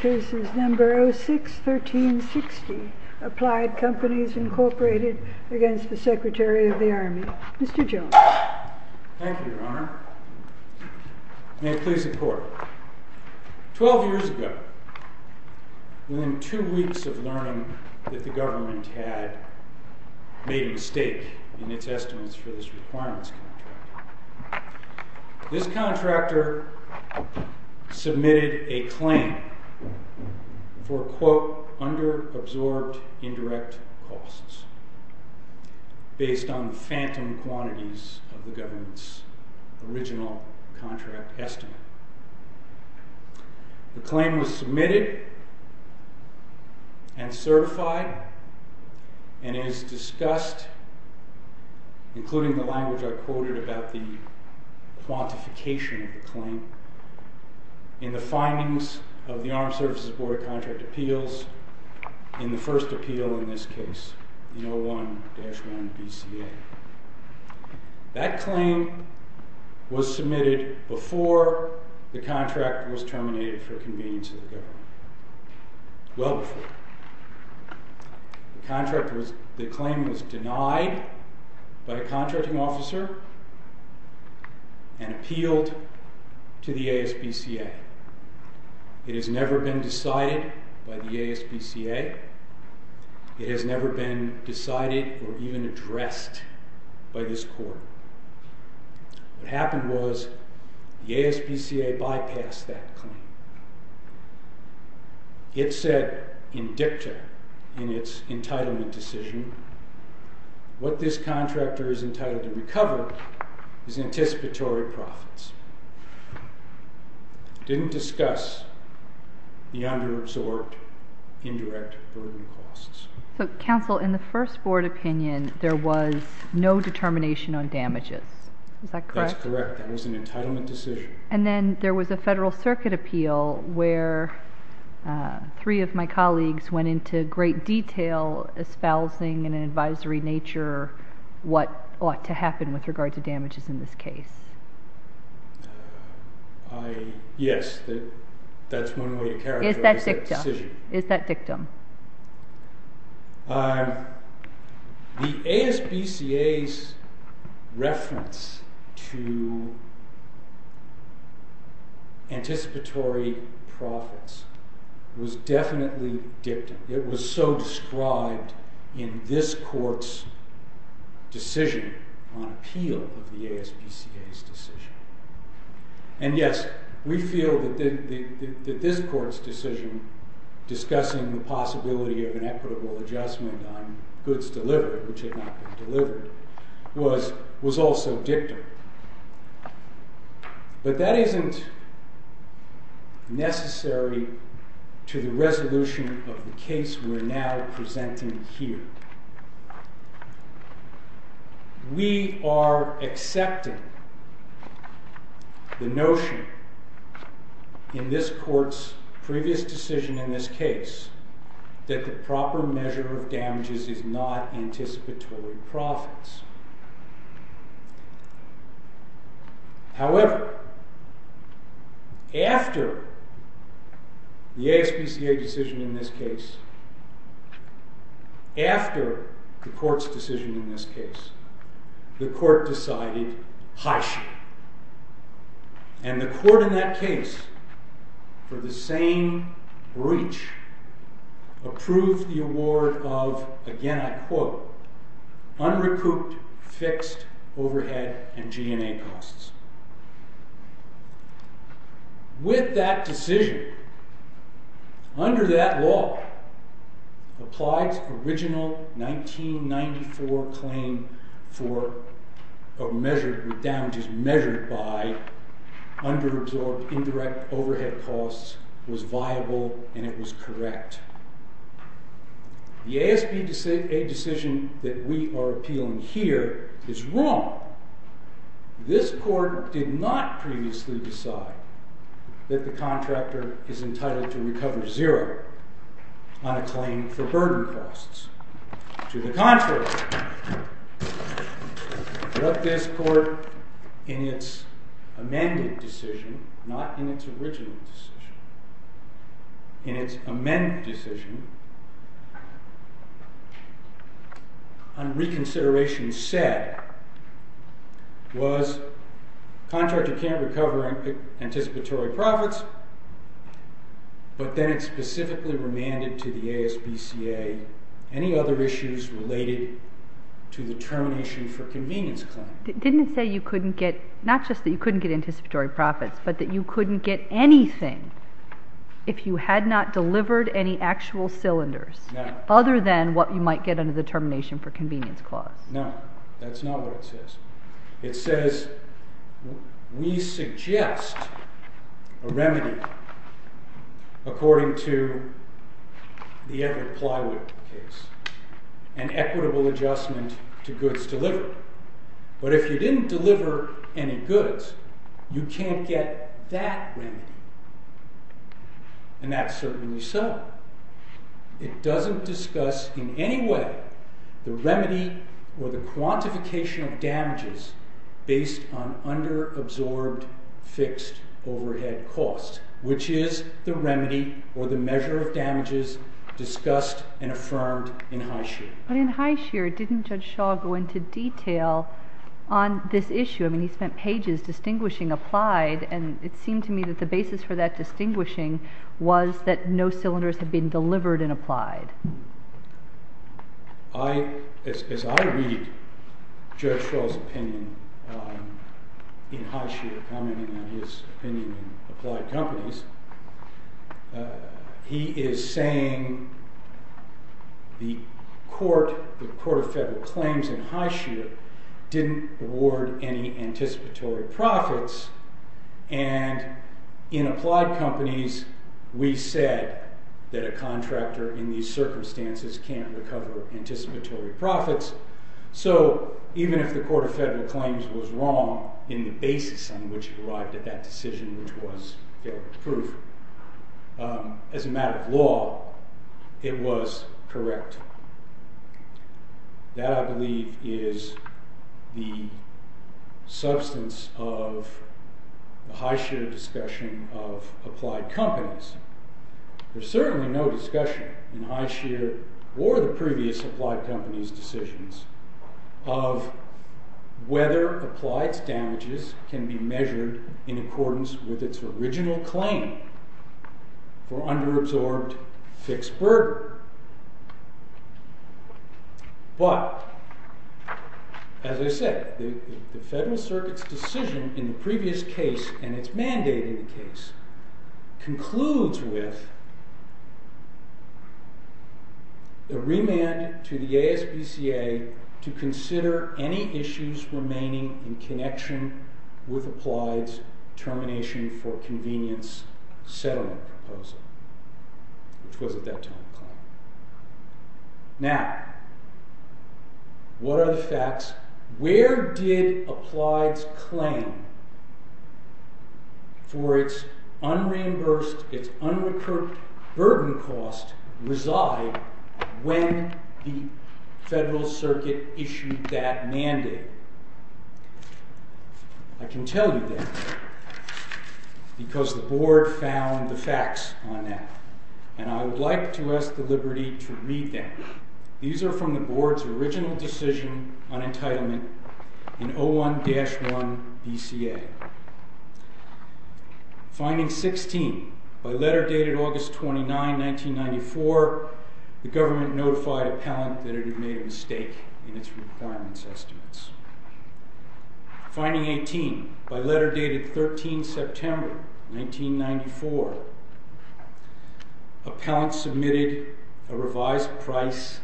06-1360 Applied Companies, Inc. v. Secretary of the Army Mr. Jones Thank you, Your Honor. May it please the Court. Twelve years ago, within two weeks of learning that the government had made a mistake in its estimates for this requirements contract, this contractor submitted a claim for quote, under-absorbed indirect costs based on phantom quantities of the government's original contract estimate. The claim was submitted and certified and is discussed, including the language I quoted about the quantification of the claim, in the findings of the Armed Services Board of Contract Appeals, in the first appeal in this case, the 01-1 BCA. That claim was submitted before the contract was terminated for convenience of the government, well before. The claim was denied by a contracting officer and appealed to the ASBCA. It has never been decided by the ASBCA. It has never been decided or even addressed by this Court. What happened was the ASBCA bypassed that claim. It said in dicta in its entitlement decision, what this contractor is entitled to recover is anticipatory profits. It didn't discuss the under-absorbed indirect burden costs. So, Counsel, in the first Board opinion, there was no determination on damages. Is that correct? That's correct. That was an entitlement decision. And then there was a Federal Circuit appeal where three of my colleagues went into great detail, espousing in an advisory nature what ought to happen with regard to damages in this case. Yes, that's one way to characterize that decision. Is that dicta? Is that dictum? The ASBCA's reference to anticipatory profits was definitely dictum. It was so described in this Court's decision on appeal of the ASBCA's decision. And yes, we feel that this Court's decision discussing the possibility of an equitable adjustment on goods delivered, which had not been delivered, was also dictum. But that isn't necessary to the resolution of the case we're now presenting here. We are accepting the notion in this Court's previous decision in this case that the proper measure of damages is not anticipatory profits. However, after the ASBCA's decision in this case, after the Court's decision in this case, the Court decided, hush. And the Court in that case, for the same breach, approved the award of, again I quote, unrecouped fixed overhead and G&A costs. With that decision, under that law, applied original 1994 claim for a measure of damages measured by under-absorbed indirect overhead costs was viable and it was correct. The ASBCA decision that we are appealing here is wrong. This Court did not previously decide that the contractor is entitled to recover zero on a claim for burden costs. To the contrary, what this Court, in its amended decision, not in its original decision, in its amended decision, on reconsideration said, was contractor can't recover anticipatory profits, but then it specifically remanded to the ASBCA any other issues related to the termination for convenience claim. Didn't it say you couldn't get, not just that you couldn't get anticipatory profits, but that you couldn't get anything if you had not delivered any actual cylinders? No. Other than what you might get under the termination for convenience clause? No, that's not what it says. It says we suggest a remedy according to the Everett Plywood case, an equitable adjustment to goods delivered. But if you didn't deliver any goods, you can't get that remedy. And that's certainly so. It doesn't discuss in any way the remedy or the quantification of damages based on under-absorbed fixed overhead costs, which is the remedy or the measure of damages discussed and affirmed in Highshear. But in Highshear, didn't Judge Shaw go into detail on this issue? I mean, he spent pages distinguishing applied, and it seemed to me that the basis for that distinguishing was that no cylinders had been delivered and applied. As I read Judge Shaw's opinion in Highshear, commenting on his opinion in Applied Companies, he is saying the Court of Federal Claims in Highshear didn't award any anticipatory profits, and in Applied Companies, we said that a contractor in these circumstances can't recover anticipatory profits. So even if the Court of Federal Claims was wrong in the basis on which it arrived at that decision, which was failed proof, as a matter of law, it was correct. That, I believe, is the substance of the Highshear discussion of Applied Companies. There's certainly no discussion in Highshear or the previous Applied Companies decisions of whether applied damages can be measured in accordance with its original claim for under-absorbed fixed burden. But, as I said, the Federal Circuit's decision in the previous case, and its mandate in the case, concludes with a remand to the ASPCA to consider any issues remaining in connection with Applied's termination for convenience settlement proposal, which was at that time a claim. Now, what are the facts? Where did Applied's claim for its unreimbursed, its unrecurred burden cost reside when the Federal Circuit issued that mandate? I can tell you that because the Board found the facts on that, and I would like to ask the liberty to read them. These are from the Board's original decision on entitlement in 01-1 BCA. Finding 16, by letter dated August 29, 1994, the government notified Appellant that it had made a mistake in its requirements estimates. Finding 18, by letter dated September 13, 1994, Appellant submitted a revised price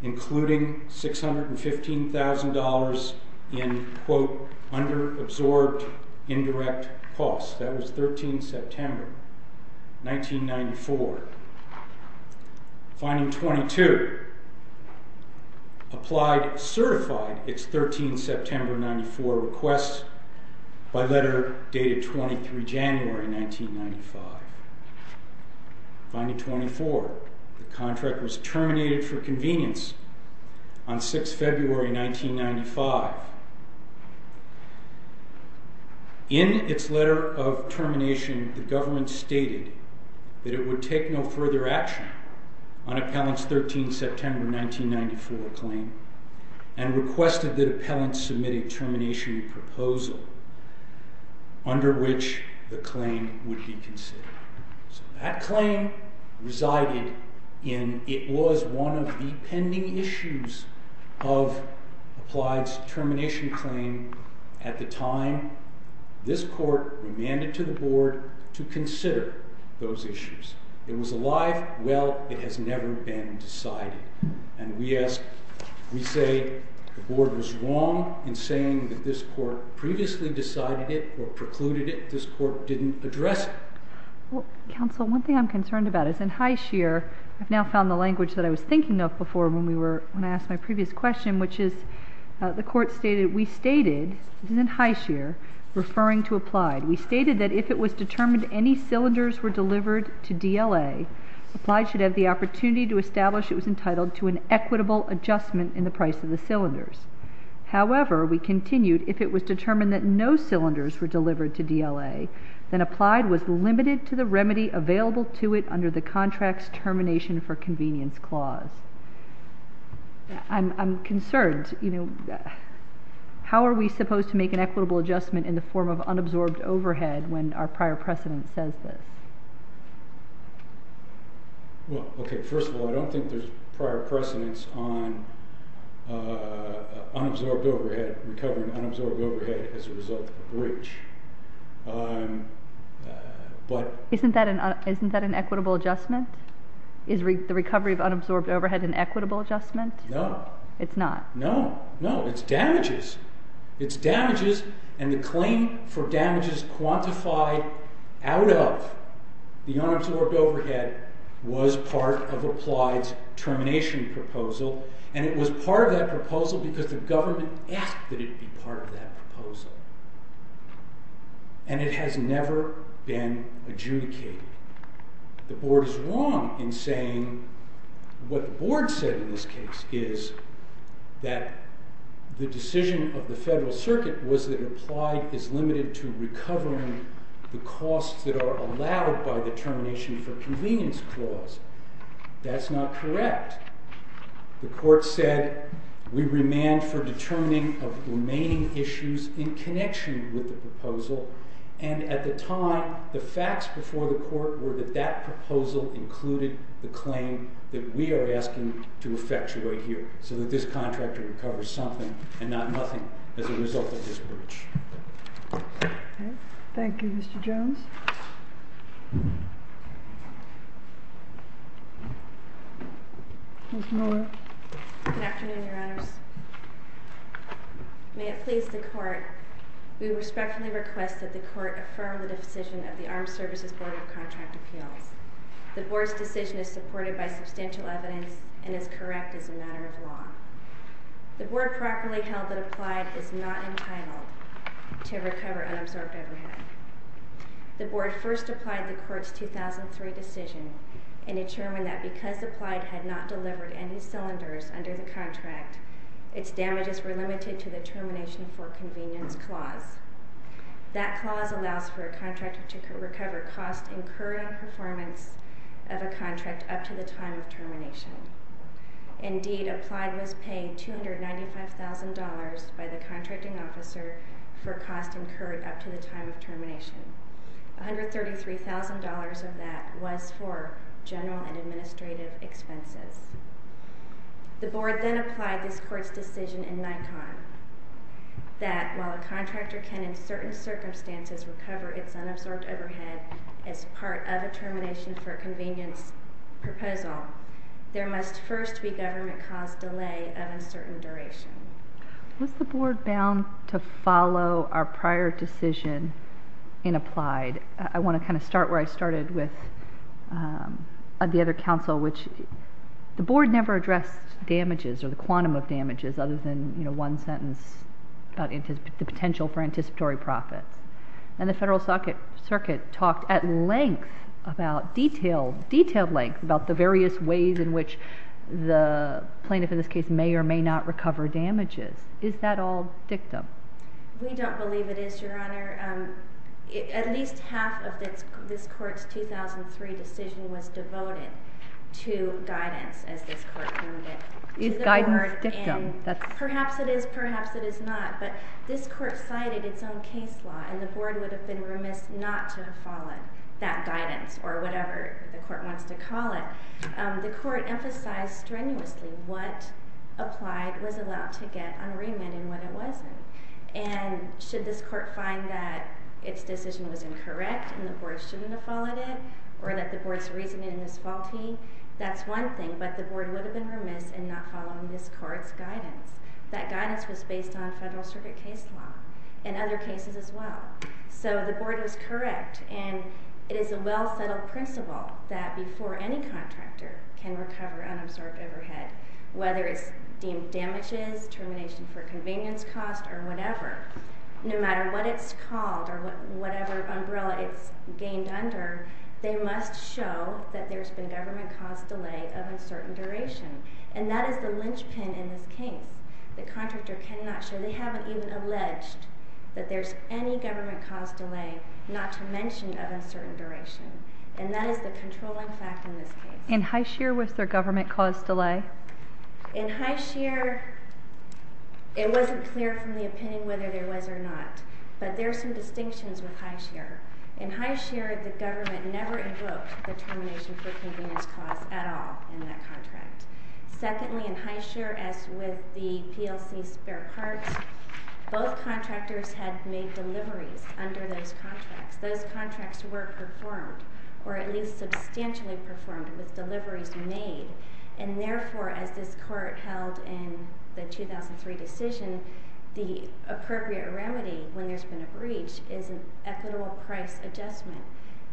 including $615,000 in quote, under-absorbed indirect costs. That was September 13, 1994. Finding 22, Applied certified its September 13, 1994 request by letter dated January 23, 1995. Finding 24, the contract was terminated for convenience on 6 February, 1995. In its letter of termination, the government stated that it would take no further action on Appellant's September 13, 1994 claim and requested that Appellant submit a termination proposal under which the claim would be considered. So that claim resided in, it was one of the pending issues of Applied's termination claim at the time. This court remanded to the Board to consider those issues. It was a live, well, it has never been decided. And we ask, we say the Board was wrong in saying that this court previously decided it or precluded it. This court didn't address it. Counsel, one thing I'm concerned about is in High Shear, I've now found the language that I was thinking of before when I asked my previous question, which is the court stated, we stated, this is in High Shear, referring to Applied, we stated that if it was determined any cylinders were delivered to DLA, Applied should have the opportunity to establish it was entitled to an equitable adjustment in the price of the cylinders. However, we continued, if it was determined that no cylinders were delivered to DLA, then Applied was limited to the remedy available to it under the contract's termination for convenience clause. I'm concerned, you know, how are we supposed to make an equitable adjustment in the form of unabsorbed overhead when our prior precedent says this? Well, okay, first of all, I don't think there's prior precedence on unabsorbed overhead, recovering unabsorbed overhead as a result of a breach. Isn't that an equitable adjustment? Is the recovery of unabsorbed overhead an equitable adjustment? No. It's not? No, no, it's damages. It's damages and the claim for damages quantified out of the unabsorbed overhead was part of Applied's termination proposal and it was part of that proposal because the government asked that it be part of that proposal. And it has never been adjudicated. The Board is wrong in saying what the Board said in this case is that the decision of the Federal Circuit was that Applied is limited to recovering the costs that are allowed by the termination for convenience clause. That's not correct. The court said we remand for determining of remaining issues in connection with the proposal. And at the time, the facts before the court were that that proposal included the claim that we are asking to effectuate here so that this contractor recovers something and not nothing as a result of this breach. Thank you, Mr. Jones. Ms. Miller. Good afternoon, Your Honors. May it please the Court, we respectfully request that the Court affirm the decision of the Armed Services Board of Contract Appeals. The Board's decision is supported by substantial evidence and is correct as a matter of law. The Board properly held that Applied is not entitled to recover unabsorbed overhead. The Board first applied the Court's 2003 decision and determined that because Applied had not delivered any cylinders under the contract, its damages were limited to the termination for convenience clause. That clause allows for a contractor to recover costs incurring performance of a contract up to the time of termination. Indeed, Applied was paying $295,000 by the contracting officer for costs incurred up to the time of termination. $133,000 of that was for general and administrative expenses. The Board then applied this Court's decision in Nikon that while a contractor can in certain circumstances recover its unabsorbed overhead as part of a termination for convenience proposal, there must first be government-caused delay of uncertain duration. Was the Board bound to follow our prior decision in Applied? I want to kind of start where I started with the other counsel, which the Board never addressed damages or the quantum of damages other than one sentence about the potential for anticipatory profits. And the Federal Circuit talked at length about detailed length about the various ways in which the plaintiff in this case may or may not recover damages. Is that all dictum? We don't believe it is, Your Honor. At least half of this Court's 2003 decision was devoted to guidance, as this Court named it. Is guidance dictum? Perhaps it is, perhaps it is not. But this Court cited its own case law, and the Board would have been remiss not to have followed that guidance or whatever the Court wants to call it. The Court emphasized strenuously what Applied was allowed to get on remand and what it wasn't. And should this Court find that its decision was incorrect and the Board shouldn't have followed it, or that the Board's reasoning is faulty, that's one thing. But the Board would have been remiss in not following this Court's guidance. That guidance was based on Federal Circuit case law and other cases as well. So the Board was correct. And it is a well-settled principle that before any contractor can recover unabsorbed overhead, whether it's deemed damages, termination for convenience cost, or whatever, no matter what it's called or whatever umbrella it's gained under, they must show that there's been government-caused delay of uncertain duration. And that is the linchpin in this case. The contractor cannot show, they haven't even alleged that there's any government-caused delay, not to mention of uncertain duration. And that is the controlling fact in this case. In High Shear, was there government-caused delay? In High Shear, it wasn't clear from the opinion whether there was or not. But there are some distinctions with High Shear. In High Shear, the government never invoked the termination for convenience cost at all in that contract. Secondly, in High Shear, as with the PLC spare parts, both contractors had made deliveries under those contracts. Those contracts were performed, or at least substantially performed, with deliveries made. And therefore, as this Court held in the 2003 decision, the appropriate remedy when there's been a breach is an equitable price adjustment.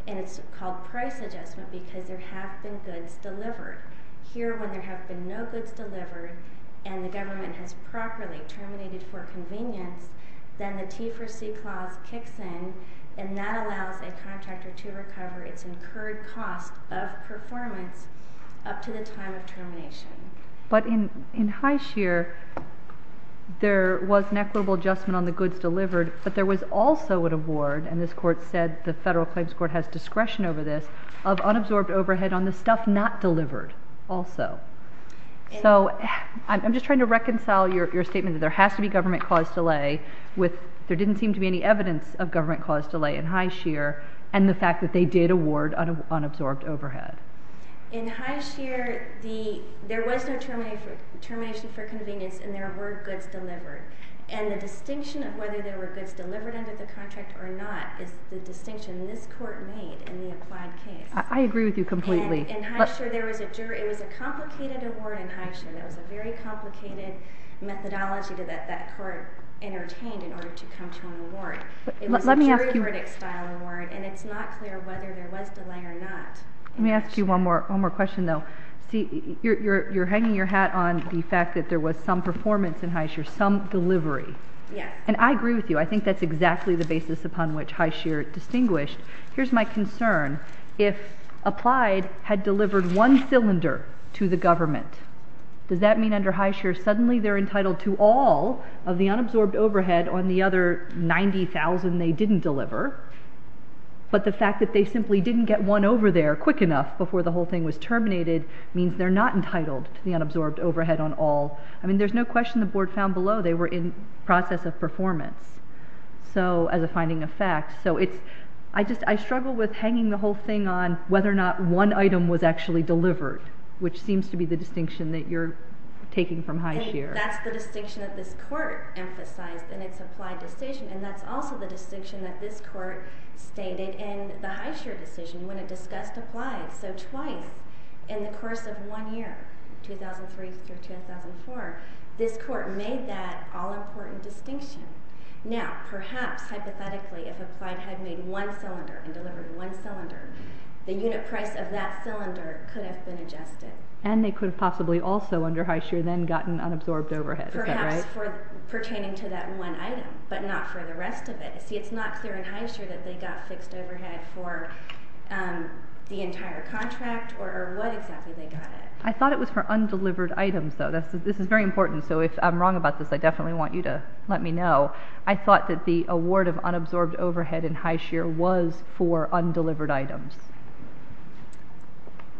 And it's called price adjustment because there have been goods delivered. Here, when there have been no goods delivered, and the government has properly terminated for convenience, then the T for C clause kicks in, and that allows a contractor to recover its incurred cost of performance up to the time of termination. But in High Shear, there was an equitable adjustment on the goods delivered, but there was also an award, and this Court said the Federal Claims Court has discretion over this, of unabsorbed overhead on the stuff not delivered, also. So, I'm just trying to reconcile your statement that there has to be government-caused delay with there didn't seem to be any evidence of government-caused delay in High Shear, and the fact that they did award unabsorbed overhead. In High Shear, there was no termination for convenience, and there were goods delivered. And the distinction of whether there were goods delivered under the contract or not is the distinction this Court made in the applied case. I agree with you completely. And in High Shear, there was a jury. It was a complicated award in High Shear. It was a very complicated methodology that that Court entertained in order to come to an award. It was a jury-verdict-style award, and it's not clear whether there was delay or not. Let me ask you one more question, though. See, you're hanging your hat on the fact that there was some performance in High Shear, some delivery. And I agree with you. I think that's exactly the basis upon which High Shear distinguished. Here's my concern. If Applied had delivered one cylinder to the government, does that mean under High Shear suddenly they're entitled to all of the unabsorbed overhead on the other 90,000 they didn't deliver? But the fact that they simply didn't get one over there quick enough before the whole thing was terminated means they're not entitled to the unabsorbed overhead on all. I mean, there's no question the Board found below they were in process of performance as a finding of fact. So I struggle with hanging the whole thing on whether or not one item was actually delivered, which seems to be the distinction that you're taking from High Shear. That's the distinction that this Court emphasized in its Applied decision, and that's also the distinction that this Court stated in the High Shear decision when it discussed Applied. So twice in the course of one year, 2003 through 2004, this Court made that all-important distinction. Now, perhaps, hypothetically, if Applied had made one cylinder and delivered one cylinder, the unit price of that cylinder could have been adjusted. And they could have possibly also under High Shear then gotten unabsorbed overhead, is that right? Perhaps, pertaining to that one item, but not for the rest of it. See, it's not clear in High Shear that they got fixed overhead for the entire contract or what exactly they got it. I thought it was for undelivered items, though. This is very important, so if I'm wrong about this, I definitely want you to let me know. I thought that the award of unabsorbed overhead in High Shear was for undelivered items.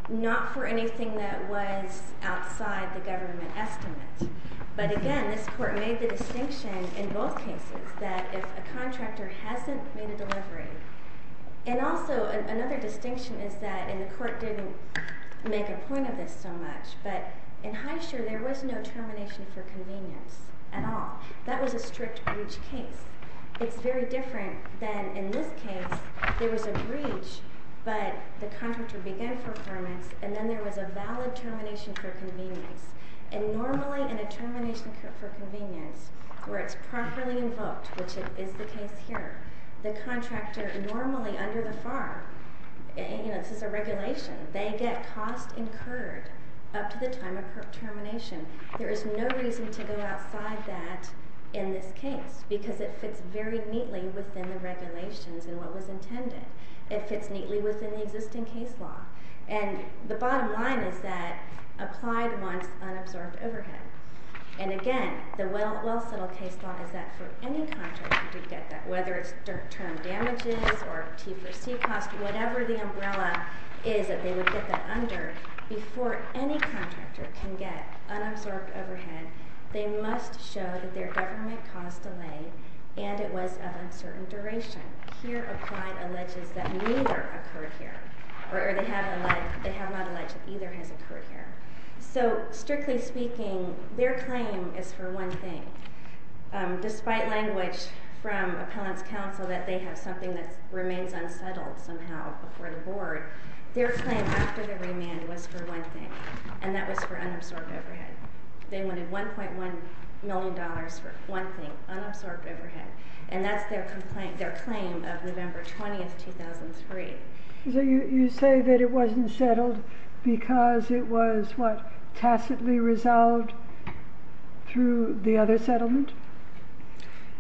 Not for anything that was outside the government estimate. But again, this Court made the distinction in both cases that if a contractor hasn't made a delivery, and also another distinction is that, and the Court didn't make a point of this so much, but in High Shear there was no termination for convenience at all. That was a strict breach case. It's very different than in this case. There was a breach, but the contractor began for permits, and then there was a valid termination for convenience. And normally in a termination for convenience, where it's properly invoked, which is the case here, the contractor normally under the FAR, this is a regulation, they get cost incurred up to the time of termination. There is no reason to go outside that in this case, because it fits very neatly within the regulations and what was intended. It fits neatly within the existing case law. And the bottom line is that applied wants unabsorbed overhead. And again, the well-settled case law is that for any contractor to get that, whether it's term damages or T4C cost, whatever the umbrella is that they would get that under, before any contractor can get unabsorbed overhead, they must show that their government caused delay and it was of uncertain duration. Here applied alleges that neither occurred here, or they have not alleged that either has occurred here. So strictly speaking, their claim is for one thing. Despite language from appellant's counsel that they have something that remains unsettled somehow before the board, their claim after the remand was for one thing, and that was for unabsorbed overhead. They wanted $1.1 million for one thing, unabsorbed overhead. And that's their complaint, their claim of November 20, 2003. So you say that it wasn't settled because it was, what, tacitly resolved through the other settlement?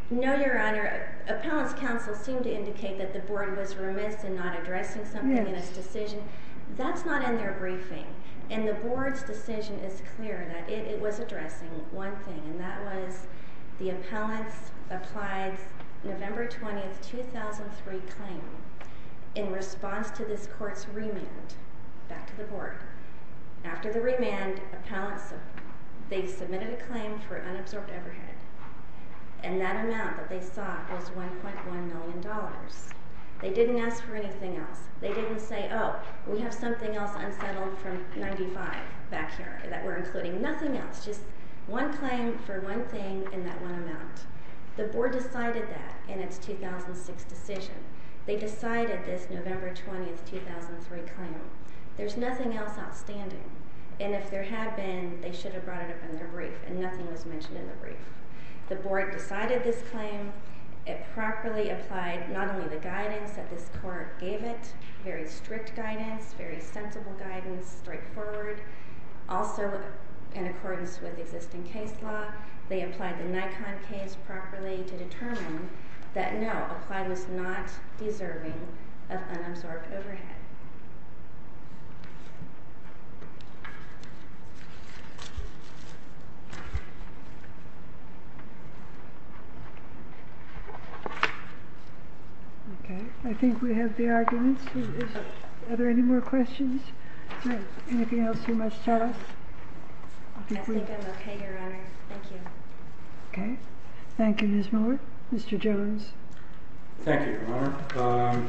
No, Your Honor. Appellant's counsel seemed to indicate that the board was remiss in not addressing something in its decision. That's not in their briefing. And the board's decision is clear that it was addressing one thing, and that was the appellant's applied November 20, 2003 claim in response to this court's remand back to the board. After the remand, appellants submitted a claim for unabsorbed overhead, and that amount that they sought was $1.1 million. They didn't ask for anything else. They didn't say, oh, we have something else unsettled from 95 back here that we're including. Nothing else, just one claim for one thing in that one amount. The board decided that in its 2006 decision. They decided this November 20, 2003 claim. There's nothing else outstanding. And if there had been, they should have brought it up in their brief, and nothing was mentioned in the brief. The board decided this claim. It properly applied not only the guidance that this court gave it, very strict guidance, very sensible guidance, straightforward. Also, in accordance with existing case law, they applied the Nikon case properly to determine that no, applied was not deserving of unabsorbed overhead. Okay. I think we have the arguments. Are there any more questions? Anything else you must tell us? I think I'm okay, Your Honor. Thank you. Okay. Thank you, Ms. Moore. Mr. Jones. Thank you, Your Honor.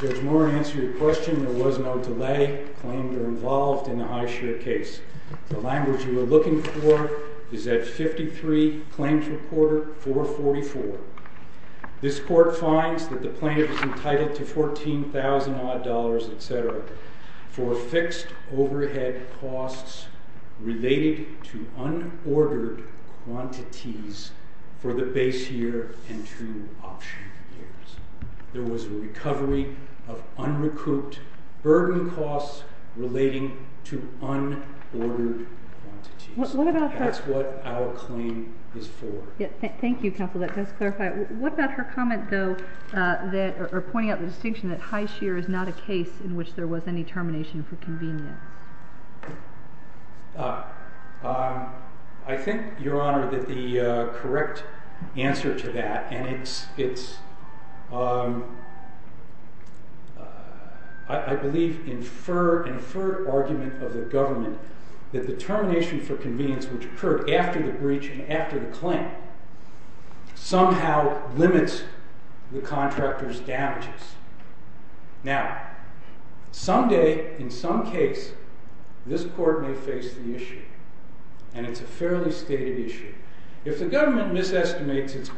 Judge Moore, to answer your question, there was no delay claimed or involved in the high share case. The language you are looking for is at 53, claims reporter, 444. This court finds that the plaintiff is entitled to $14,000 odd, etc. for fixed overhead costs related to unordered quantities for the base year and two option years. There was a recovery of unrecouped burden costs relating to unordered quantities. That's what our claim is for. Thank you, counsel. That does clarify it. What about her comment, though, or pointing out the distinction that high share is not a case in which there was any termination for convenience? I think, Your Honor, that the correct answer to that, and it's, I believe, inferred argument of the government that the termination for convenience which occurred after the breach and after the claim somehow limits the contractor's damages. Now, someday, in some case, this court may face the issue, and it's a fairly stated issue. If the government misestimates its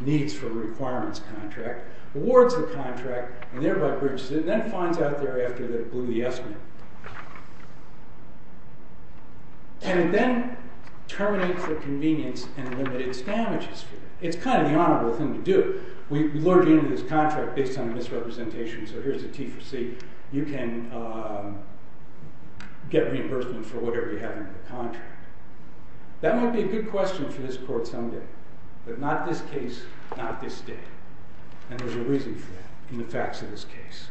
needs for a requirements contract, awards the contract, and thereby breaches it, and then finds out thereafter that it blew the estimate, and then terminates the convenience and limits its damages, it's kind of the honorable thing to do. We lured you into this contract based on misrepresentation, so here's a T for C. You can get reimbursement for whatever you have in the contract. That might be a good question for this court someday, but not this case, not this day. And there's a reason for that in the facts of this case.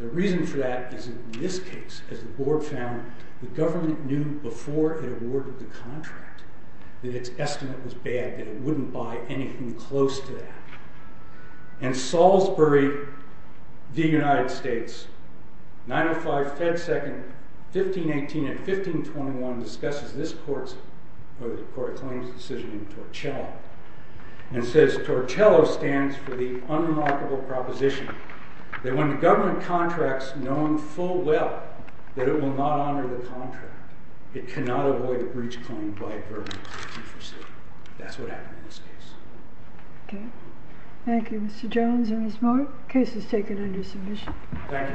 The reason for that is in this case, as the board found, the government knew before it awarded the contract that its estimate was bad, that it wouldn't buy anything close to that. In Salisbury v. United States, 905, Fed 2nd, 1518 and 1521 discusses this court's claims decision in Torcello, and says, Torcello stands for the unremarkable proposition that when the government contracts knowing full well that it will not honor the contract, it cannot avoid a breach claim by a verdict of T for C. That's what happened in this case. Okay. Thank you, Mr. Jones and Ms. Moore. Case is taken under submission. Thank you. All rise.